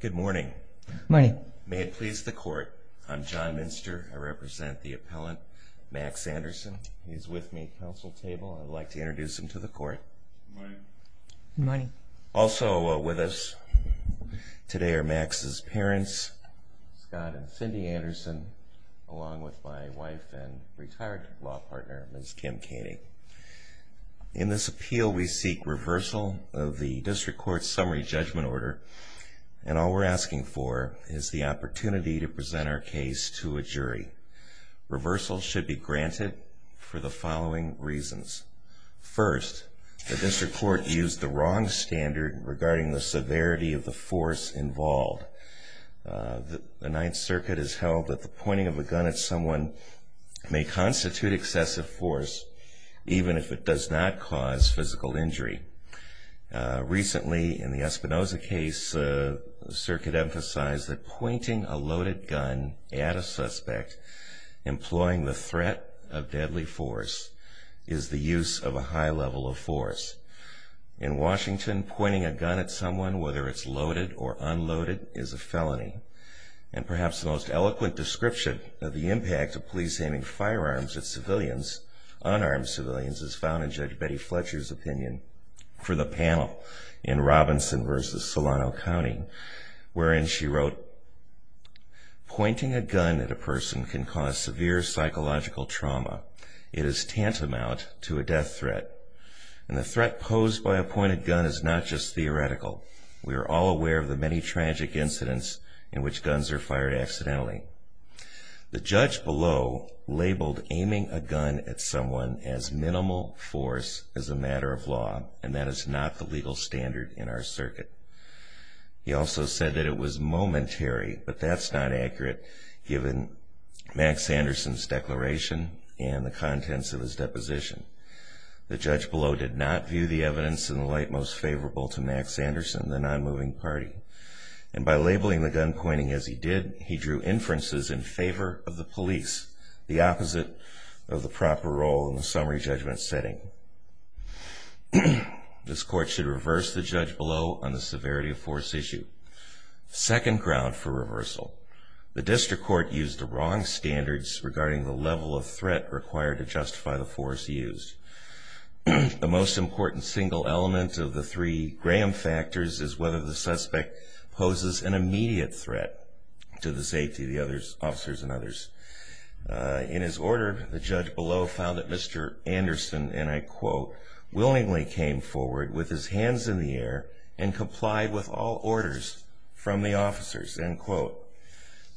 Good morning. Good morning. May it please the court. I'm John Minster. I represent the appellant, Max Anderson. He's with me at the council table. I'd like to introduce him to the court. Good morning. Good morning. Also with us today are Max's parents, Scott and Cindy Anderson, along with my wife and retired law partner, Ms. Kim Kaney. In this appeal, we seek reversal of the district court's summary judgment order, and all we're asking for is the opportunity to present our case to a jury. Reversal should be granted for the following reasons. First, the district court used the wrong standard regarding the severity of the force involved. The Ninth Circuit has held that the pointing of a gun at someone may constitute excessive force, even if it does not cause physical injury. Recently, in the Espinoza case, the circuit emphasized that pointing a loaded gun at a suspect, employing the threat of deadly force, is the use of a high level of force. In Washington, pointing a gun at someone, whether it's loaded or unloaded, is a felony. And perhaps the most eloquent description of the impact of police aiming firearms at civilians, unarmed civilians, is found in Judge Betty Fletcher's opinion for the panel in Robinson v. Solano County, wherein she wrote, Pointing a gun at a person can cause severe psychological trauma. It is tantamount to a death threat. And the threat posed by a pointed gun is not just theoretical. We are all aware of the many tragic incidents in which guns are fired accidentally. The judge below labeled aiming a gun at someone as minimal force as a matter of law, and that is not the legal standard in our circuit. He also said that it was momentary, but that's not accurate, given Max Anderson's declaration and the contents of his deposition. The judge below did not view the evidence in the light most favorable to Max Anderson, the non-moving party. And by labeling the gun pointing as he did, he drew inferences in favor of the police, the opposite of the proper role in the summary judgment setting. This court should reverse the judge below on the severity of force issue. Second ground for reversal. The district court used the wrong standards regarding the level of threat required to justify the force used. The most important single element of the three Graham factors is whether the suspect poses an immediate threat to the safety of the officers and others. In his order, the judge below found that Mr. Anderson, and I quote, willingly came forward with his hands in the air and complied with all orders from the officers, end quote.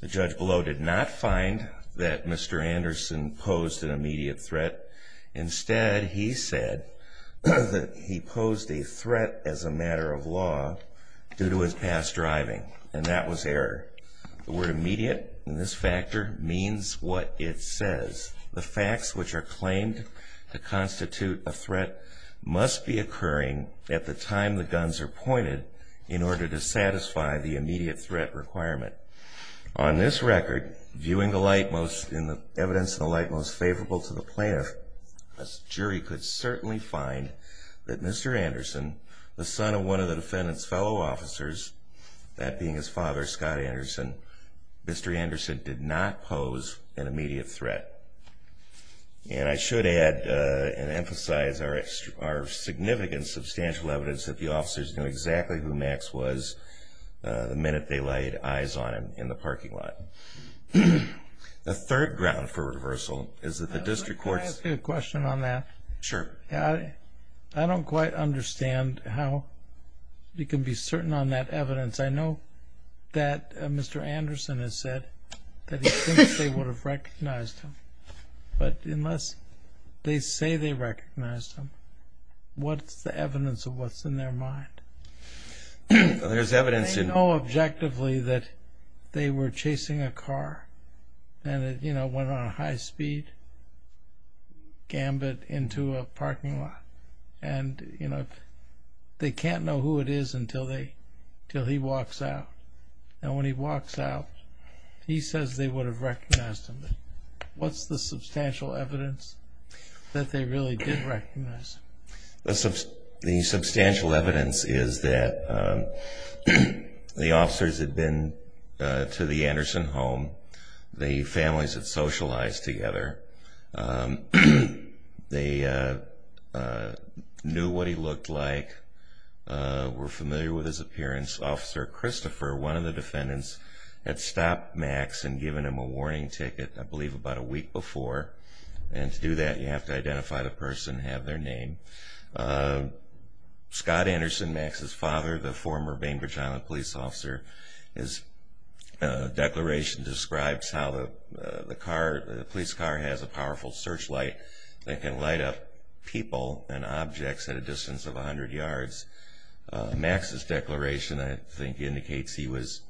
The judge below did not find that Mr. Anderson posed an immediate threat. Instead, he said that he posed a threat as a matter of law due to his past driving, and that was error. The word immediate in this factor means what it says. The facts which are claimed to constitute a threat must be occurring at the time the guns are pointed in order to satisfy the immediate threat requirement. On this record, viewing the evidence in the light most favorable to the plaintiff, a jury could certainly find that Mr. Anderson, the son of one of the defendant's fellow officers, that being his father, Scott Anderson, Mr. Anderson did not pose an immediate threat. And I should add and emphasize our significant, substantial evidence that the officers knew exactly who Max was the minute they laid eyes on him in the parking lot. The third ground for reversal is that the district courts... Can I ask you a question on that? Sure. I don't quite understand how you can be certain on that evidence. I know that Mr. Anderson has said that he thinks they would have recognized him, but unless they say they recognized him, what's the evidence of what's in their mind? There's evidence in... And, you know, they can't know who it is until he walks out. And when he walks out, he says they would have recognized him. What's the substantial evidence that they really did recognize him? The substantial evidence is that the officers had been to the Anderson home. The families had socialized together. They knew what he looked like, were familiar with his appearance. Officer Christopher, one of the defendants, had stopped Max and given him a warning ticket, I believe about a week before. And to do that, you have to identify the person and have their name. Scott Anderson, Max's father, the former Bainbridge Island police officer, his declaration describes how the police car has a powerful searchlight that can light up people and objects at a distance of 100 yards. Max's declaration, I think, indicates he was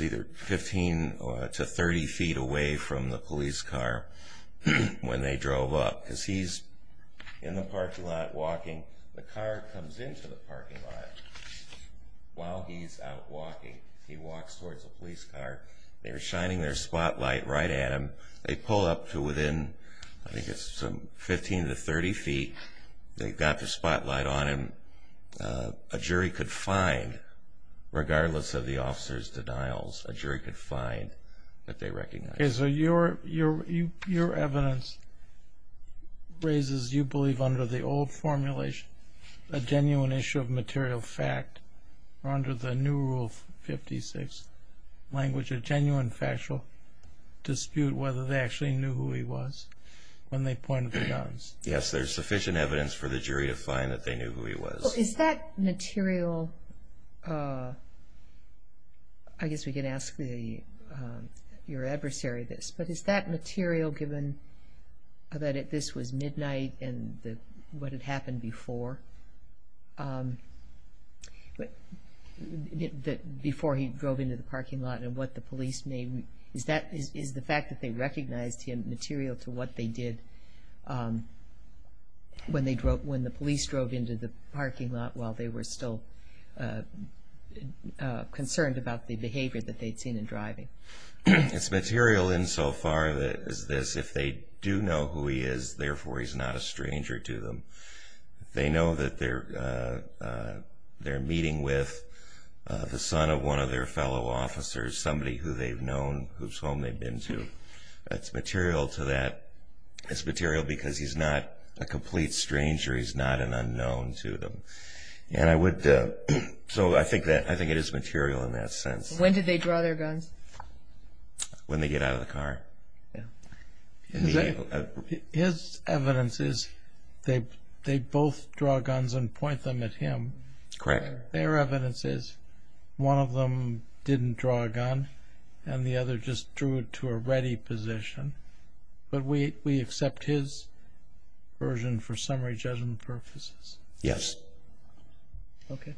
either 15 to 30 feet away from the police car when they drove up because he's in the parking lot walking. The car comes into the parking lot while he's out walking. He walks towards the police car. They're shining their spotlight right at him. They pull up to within, I think it's some 15 to 30 feet. They've got the spotlight on him. A jury could find, regardless of the officer's denials, a jury could find that they recognized him. Okay, so your evidence raises, you believe, under the old formulation, a genuine issue of material fact or under the new Rule 56 language, a genuine factual dispute whether they actually knew who he was when they pointed the guns. Yes, there's sufficient evidence for the jury to find that they knew who he was. Is that material, I guess we can ask your adversary this, but is that material, given that this was midnight and what had happened before, before he drove into the parking lot and what the police made, is the fact that they recognized him material to what they did when the police drove into the parking lot while they were still concerned about the behavior that they'd seen in driving? It's material insofar as this, if they do know who he is, therefore he's not a stranger to them. They know that they're meeting with the son of one of their fellow officers, somebody who they've known, whose home they've been to. That's material to that. It's material because he's not a complete stranger. He's not an unknown to them. And I would, so I think it is material in that sense. When did they draw their guns? When they get out of the car. His evidence is they both draw guns and point them at him. Correct. Their evidence is one of them didn't draw a gun and the other just drew it to a ready position. But we accept his version for summary judgment purposes. Yes. Okay.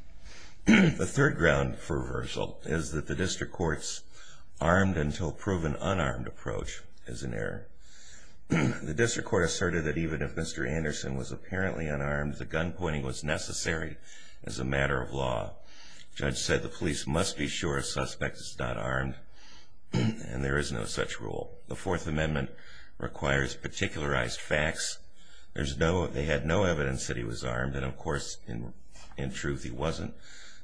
The third ground for reversal is that the district court's armed until proven unarmed approach is an error. The district court asserted that even if Mr. Anderson was apparently unarmed, the gun pointing was necessary as a matter of law. The judge said the police must be sure a suspect is not armed and there is no such rule. The Fourth Amendment requires particularized facts. They had no evidence that he was armed and, of course, in truth he wasn't.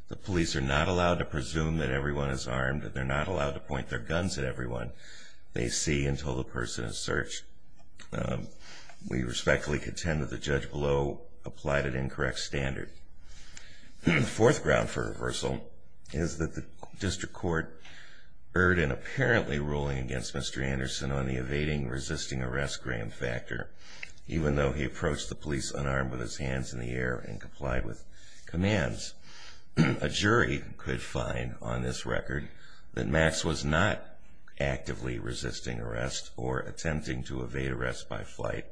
The police are not allowed to presume that everyone is armed and they're not allowed to point their guns at everyone they see until the person is searched. We respectfully contend that the judge below applied an incorrect standard. The fourth ground for reversal is that the district court erred in apparently ruling against Mr. Anderson on the evading resisting arrest gram factor. Even though he approached the police unarmed with his hands in the air and complied with commands, a jury could find on this record that Max was not actively resisting arrest or attempting to evade arrest by flight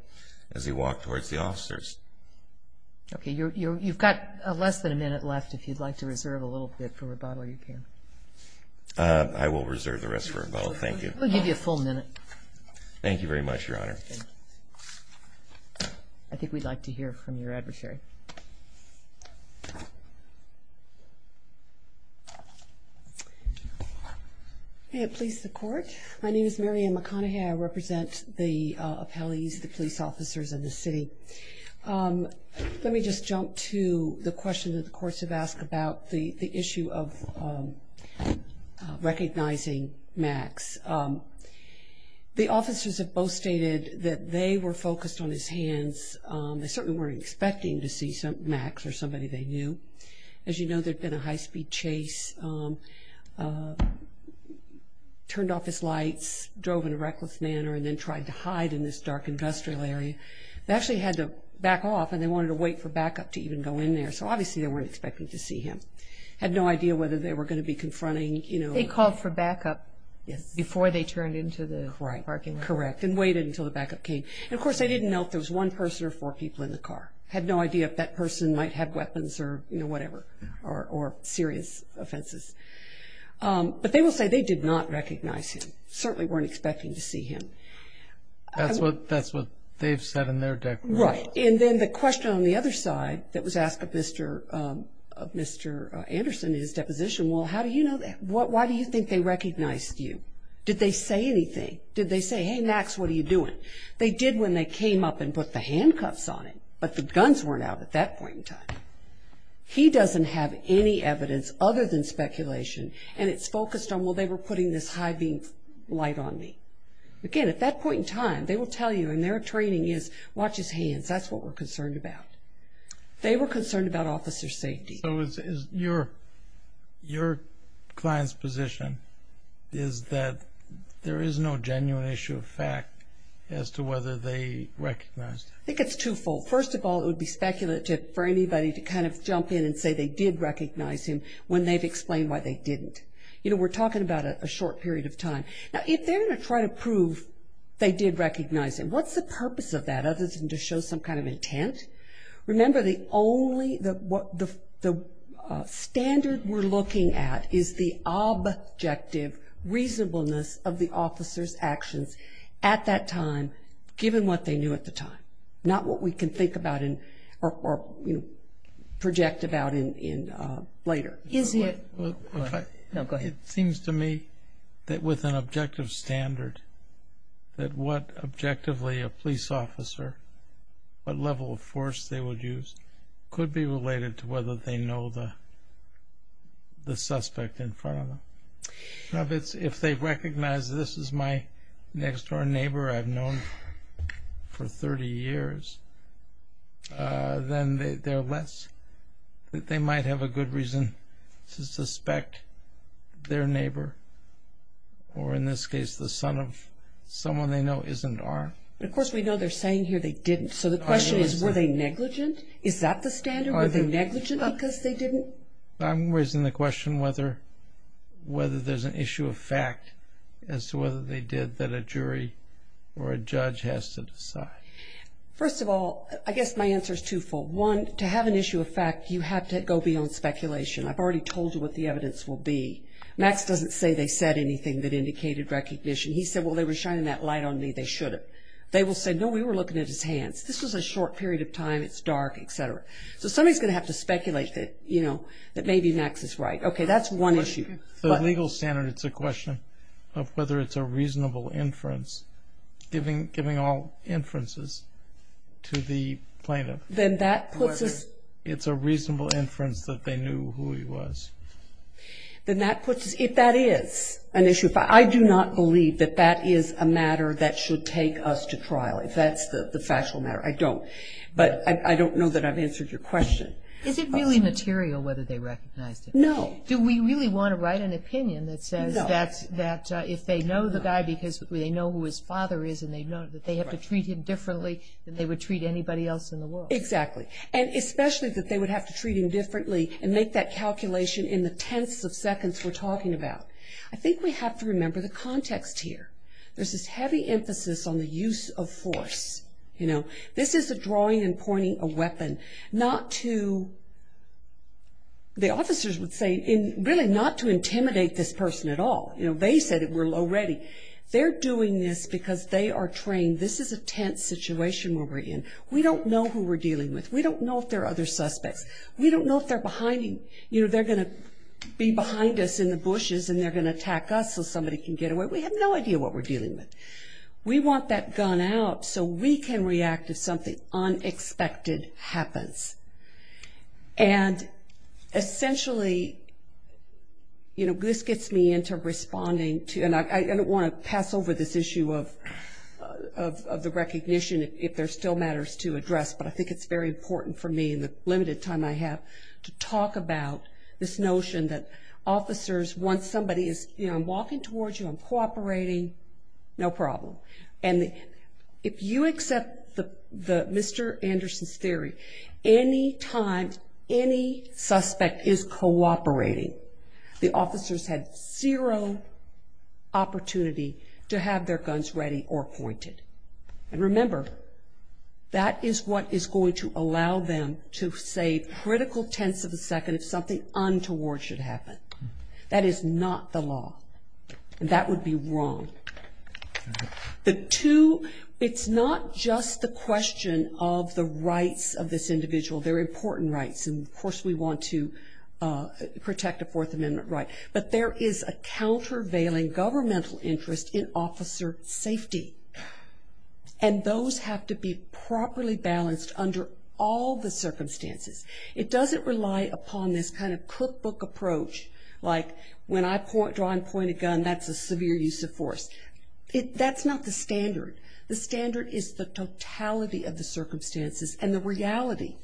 as he walked towards the officers. Okay, you've got less than a minute left. If you'd like to reserve a little bit for rebuttal, you can. I will reserve the rest for rebuttal. Thank you. We'll give you a full minute. Thank you very much, Your Honor. I think we'd like to hear from your adversary. May it please the Court. My name is Marian McConaughey. I represent the appellees, the police officers, and the city. Let me just jump to the question that the courts have asked about the issue of recognizing Max. The officers have both stated that they were focused on his hands. They certainly weren't expecting to see Max or somebody they knew. As you know, there'd been a high-speed chase, turned off his lights, drove in a reckless manner, and then tried to hide in this dark industrial area. They actually had to back off, and they wanted to wait for backup to even go in there, so obviously they weren't expecting to see him. Had no idea whether they were going to be confronting, you know. They called for backup before they turned into the parking lot. Correct, and waited until the backup came. And, of course, they didn't know if there was one person or four people in the car. Had no idea if that person might have weapons or, you know, whatever, or serious offenses. But they will say they did not recognize him. Certainly weren't expecting to see him. That's what they've said in their deposition. Right. And then the question on the other side that was asked of Mr. Anderson in his deposition, well, how do you know that? Why do you think they recognized you? Did they say anything? Did they say, hey, Max, what are you doing? They did when they came up and put the handcuffs on him, but the guns weren't out at that point in time. He doesn't have any evidence other than speculation, and it's focused on, well, they were putting this high beam light on me. Again, at that point in time, they will tell you, and their training is watch his hands. That's what we're concerned about. They were concerned about officer safety. So is your client's position is that there is no genuine issue of fact as to whether they recognized him? I think it's twofold. First of all, it would be speculative for anybody to kind of jump in and say they did recognize him when they've explained why they didn't. You know, we're talking about a short period of time. Now, if they're going to try to prove they did recognize him, what's the purpose of that, other than to show some kind of intent? Remember, the only the standard we're looking at is the objective reasonableness of the officer's actions at that time, given what they knew at the time, not what we can think about or project about later. Go ahead. It seems to me that with an objective standard, that what objectively a police officer, what level of force they would use, could be related to whether they know the suspect in front of them. If they recognize this is my next-door neighbor I've known for 30 years, then they might have a good reason to suspect their neighbor, or in this case the son of someone they know isn't armed. Of course, we know they're saying here they didn't. So the question is, were they negligent? Is that the standard? Were they negligent because they didn't? I'm raising the question whether there's an issue of fact as to whether they did that a jury or a judge has to decide. First of all, I guess my answer is twofold. One, to have an issue of fact, you have to go beyond speculation. I've already told you what the evidence will be. Max doesn't say they said anything that indicated recognition. He said, well, they were shining that light on me, they should have. They will say, no, we were looking at his hands. This was a short period of time, it's dark, et cetera. So somebody's going to have to speculate that maybe Max is right. Okay, that's one issue. The legal standard, it's a question of whether it's a reasonable inference, giving all inferences to the plaintiff. Whether it's a reasonable inference that they knew who he was. If that is an issue of fact, I do not believe that that is a matter that should take us to trial. If that's the factual matter, I don't. But I don't know that I've answered your question. Is it really material whether they recognized him? No. Do we really want to write an opinion that says that if they know the guy because they know who his father is and they know that they have to treat him differently than they would treat anybody else in the world? Exactly. And especially that they would have to treat him differently and make that calculation in the tenths of seconds we're talking about. I think we have to remember the context here. There's this heavy emphasis on the use of force. This is a drawing and pointing a weapon not to, the officers would say, really not to intimidate this person at all. They said it already. They're doing this because they are trained. This is a tense situation we're in. We don't know who we're dealing with. We don't know if there are other suspects. We don't know if they're behind him. They're going to be behind us in the bushes and they're going to attack us so somebody can get away. We have no idea what we're dealing with. We want that gun out so we can react if something unexpected happens. And essentially, you know, this gets me into responding to, and I don't want to pass over this issue of the recognition if there are still matters to address, but I think it's very important for me in the limited time I have to talk about this notion that officers, once somebody is walking towards you and cooperating, no problem. And if you accept Mr. Anderson's theory, any time any suspect is cooperating, the officers have zero opportunity to have their guns ready or pointed. And remember, that is what is going to allow them to save critical tenths of a second if something untoward should happen. That is not the law, and that would be wrong. The two, it's not just the question of the rights of this individual. They're important rights, and of course we want to protect a Fourth Amendment right, but there is a countervailing governmental interest in officer safety, and those have to be properly balanced under all the circumstances. It doesn't rely upon this kind of cookbook approach, like when I draw and point a gun, that's a severe use of force. That's not the standard. The standard is the totality of the circumstances and the reality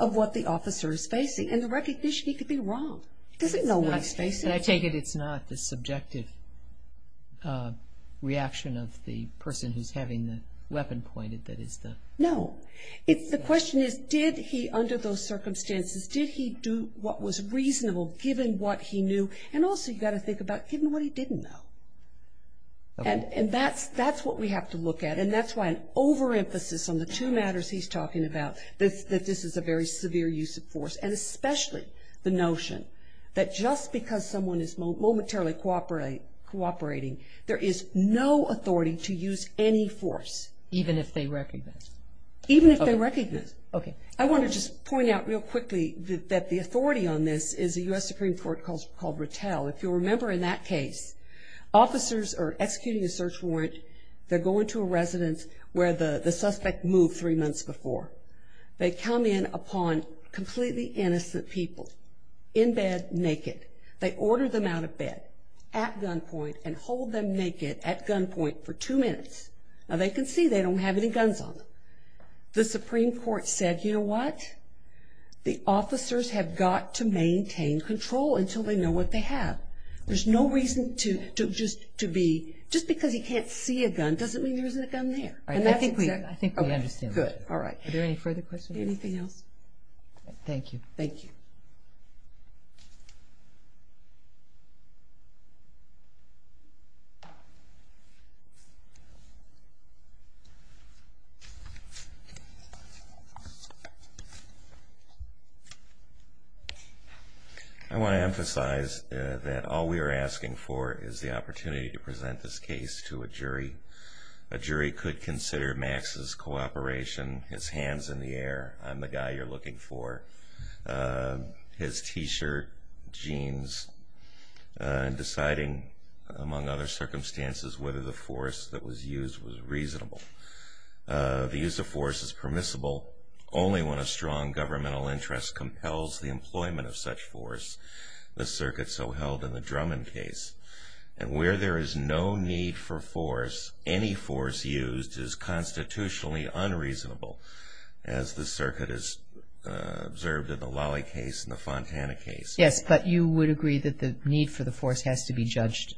of what the officer is facing, and the recognition he could be wrong. He doesn't know what he's facing. And I take it it's not the subjective reaction of the person who's having the weapon pointed that is the... No. The question is did he, under those circumstances, did he do what was reasonable given what he knew, and also you've got to think about given what he didn't know. And that's what we have to look at, and that's why an overemphasis on the two matters he's talking about that this is a very severe use of force, and especially the notion that just because someone is momentarily cooperating, there is no authority to use any force. Even if they recognize? Even if they recognize. Okay. I want to just point out real quickly that the authority on this is a U.S. Supreme Court called Rattel. If you'll remember in that case, officers are executing a search warrant. They're going to a residence where the suspect moved three months before. They come in upon completely innocent people in bed, naked. They order them out of bed at gunpoint and hold them naked at gunpoint for two minutes. Now, they can see they don't have any guns on them. The Supreme Court said, you know what? The officers have got to maintain control until they know what they have. There's no reason to just to be... Just because he can't see a gun doesn't mean there isn't a gun there. I think we understand. Good. All right. Are there any further questions? Anything else? Thank you. Thank you. Thank you. I want to emphasize that all we are asking for is the opportunity to present this case to a jury. A jury could consider Max's cooperation, his hands in the air. I'm the guy you're looking for. His T-shirt, jeans, and deciding, among other circumstances, whether the force that was used was reasonable. The use of force is permissible only when a strong governmental interest compels the employment of such force. The circuit so held in the Drummond case. And where there is no need for force, any force used is constitutionally unreasonable. As the circuit has observed in the Lawley case and the Fontana case. Yes, but you would agree that the need for the force has to be judged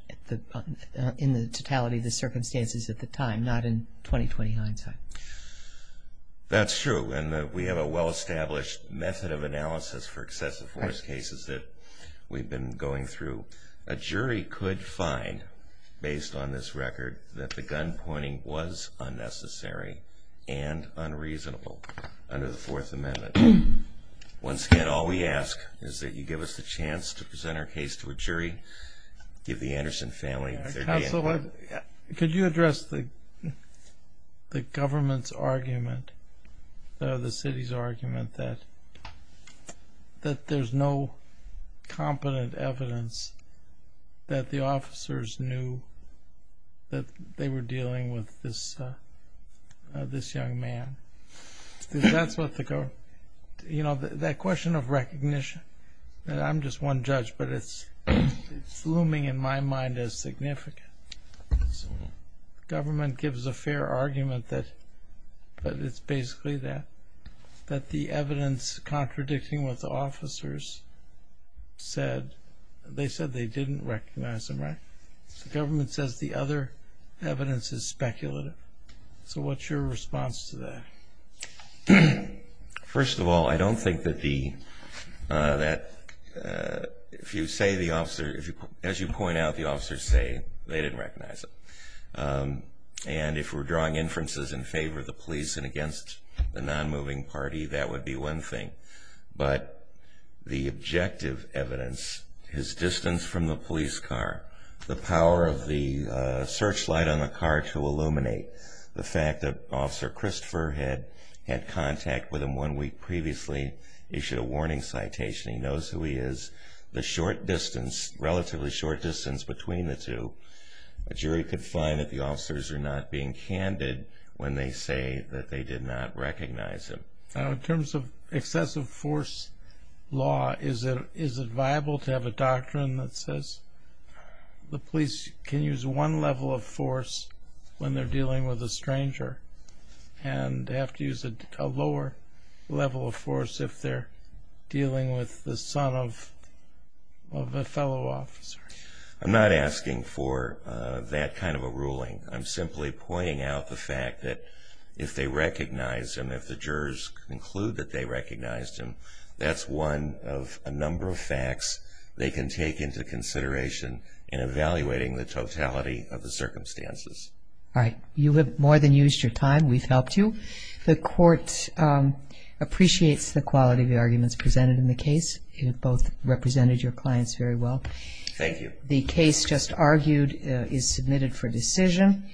in the totality of the circumstances at the time, not in 20-20 hindsight. That's true. And we have a well-established method of analysis for excessive force cases that we've been going through. A jury could find, based on this record, that the gunpointing was unnecessary and unreasonable under the Fourth Amendment. Once again, all we ask is that you give us the chance to present our case to a jury. Give the Anderson family their day. Could you address the government's argument, the city's argument, that there's no competent evidence that the officers knew that they were dealing with this young man? That question of recognition, I'm just one judge, but it's looming in my mind as significant. The government gives a fair argument that it's basically that. That the evidence contradicting what the officers said, they said they didn't recognize him, right? The government says the other evidence is speculative. So what's your response to that? First of all, I don't think that if you say the officer, as you point out, the officers say they didn't recognize him. And if we're drawing inferences in favor of the police and against the non-moving party, that would be one thing. But the objective evidence, his distance from the police car, the power of the searchlight on the car to illuminate, the fact that Officer Christopher had had contact with him one week previously, issued a warning citation, he knows who he is, the short distance, relatively short distance between the two, a jury could find that the officers are not being candid when they say that they did not recognize him. In terms of excessive force law, is it viable to have a doctrine that says the police can use one level of force when they're dealing with a stranger and have to use a lower level of force if they're dealing with the son of a fellow officer? I'm not asking for that kind of a ruling. I'm simply pointing out the fact that if they recognize him, if the jurors conclude that they recognized him, that's one of a number of facts they can take into consideration in evaluating the totality of the circumstances. All right. You have more than used your time. We've helped you. The Court appreciates the quality of the arguments presented in the case. You have both represented your clients very well. Thank you. The case just argued is submitted for decision.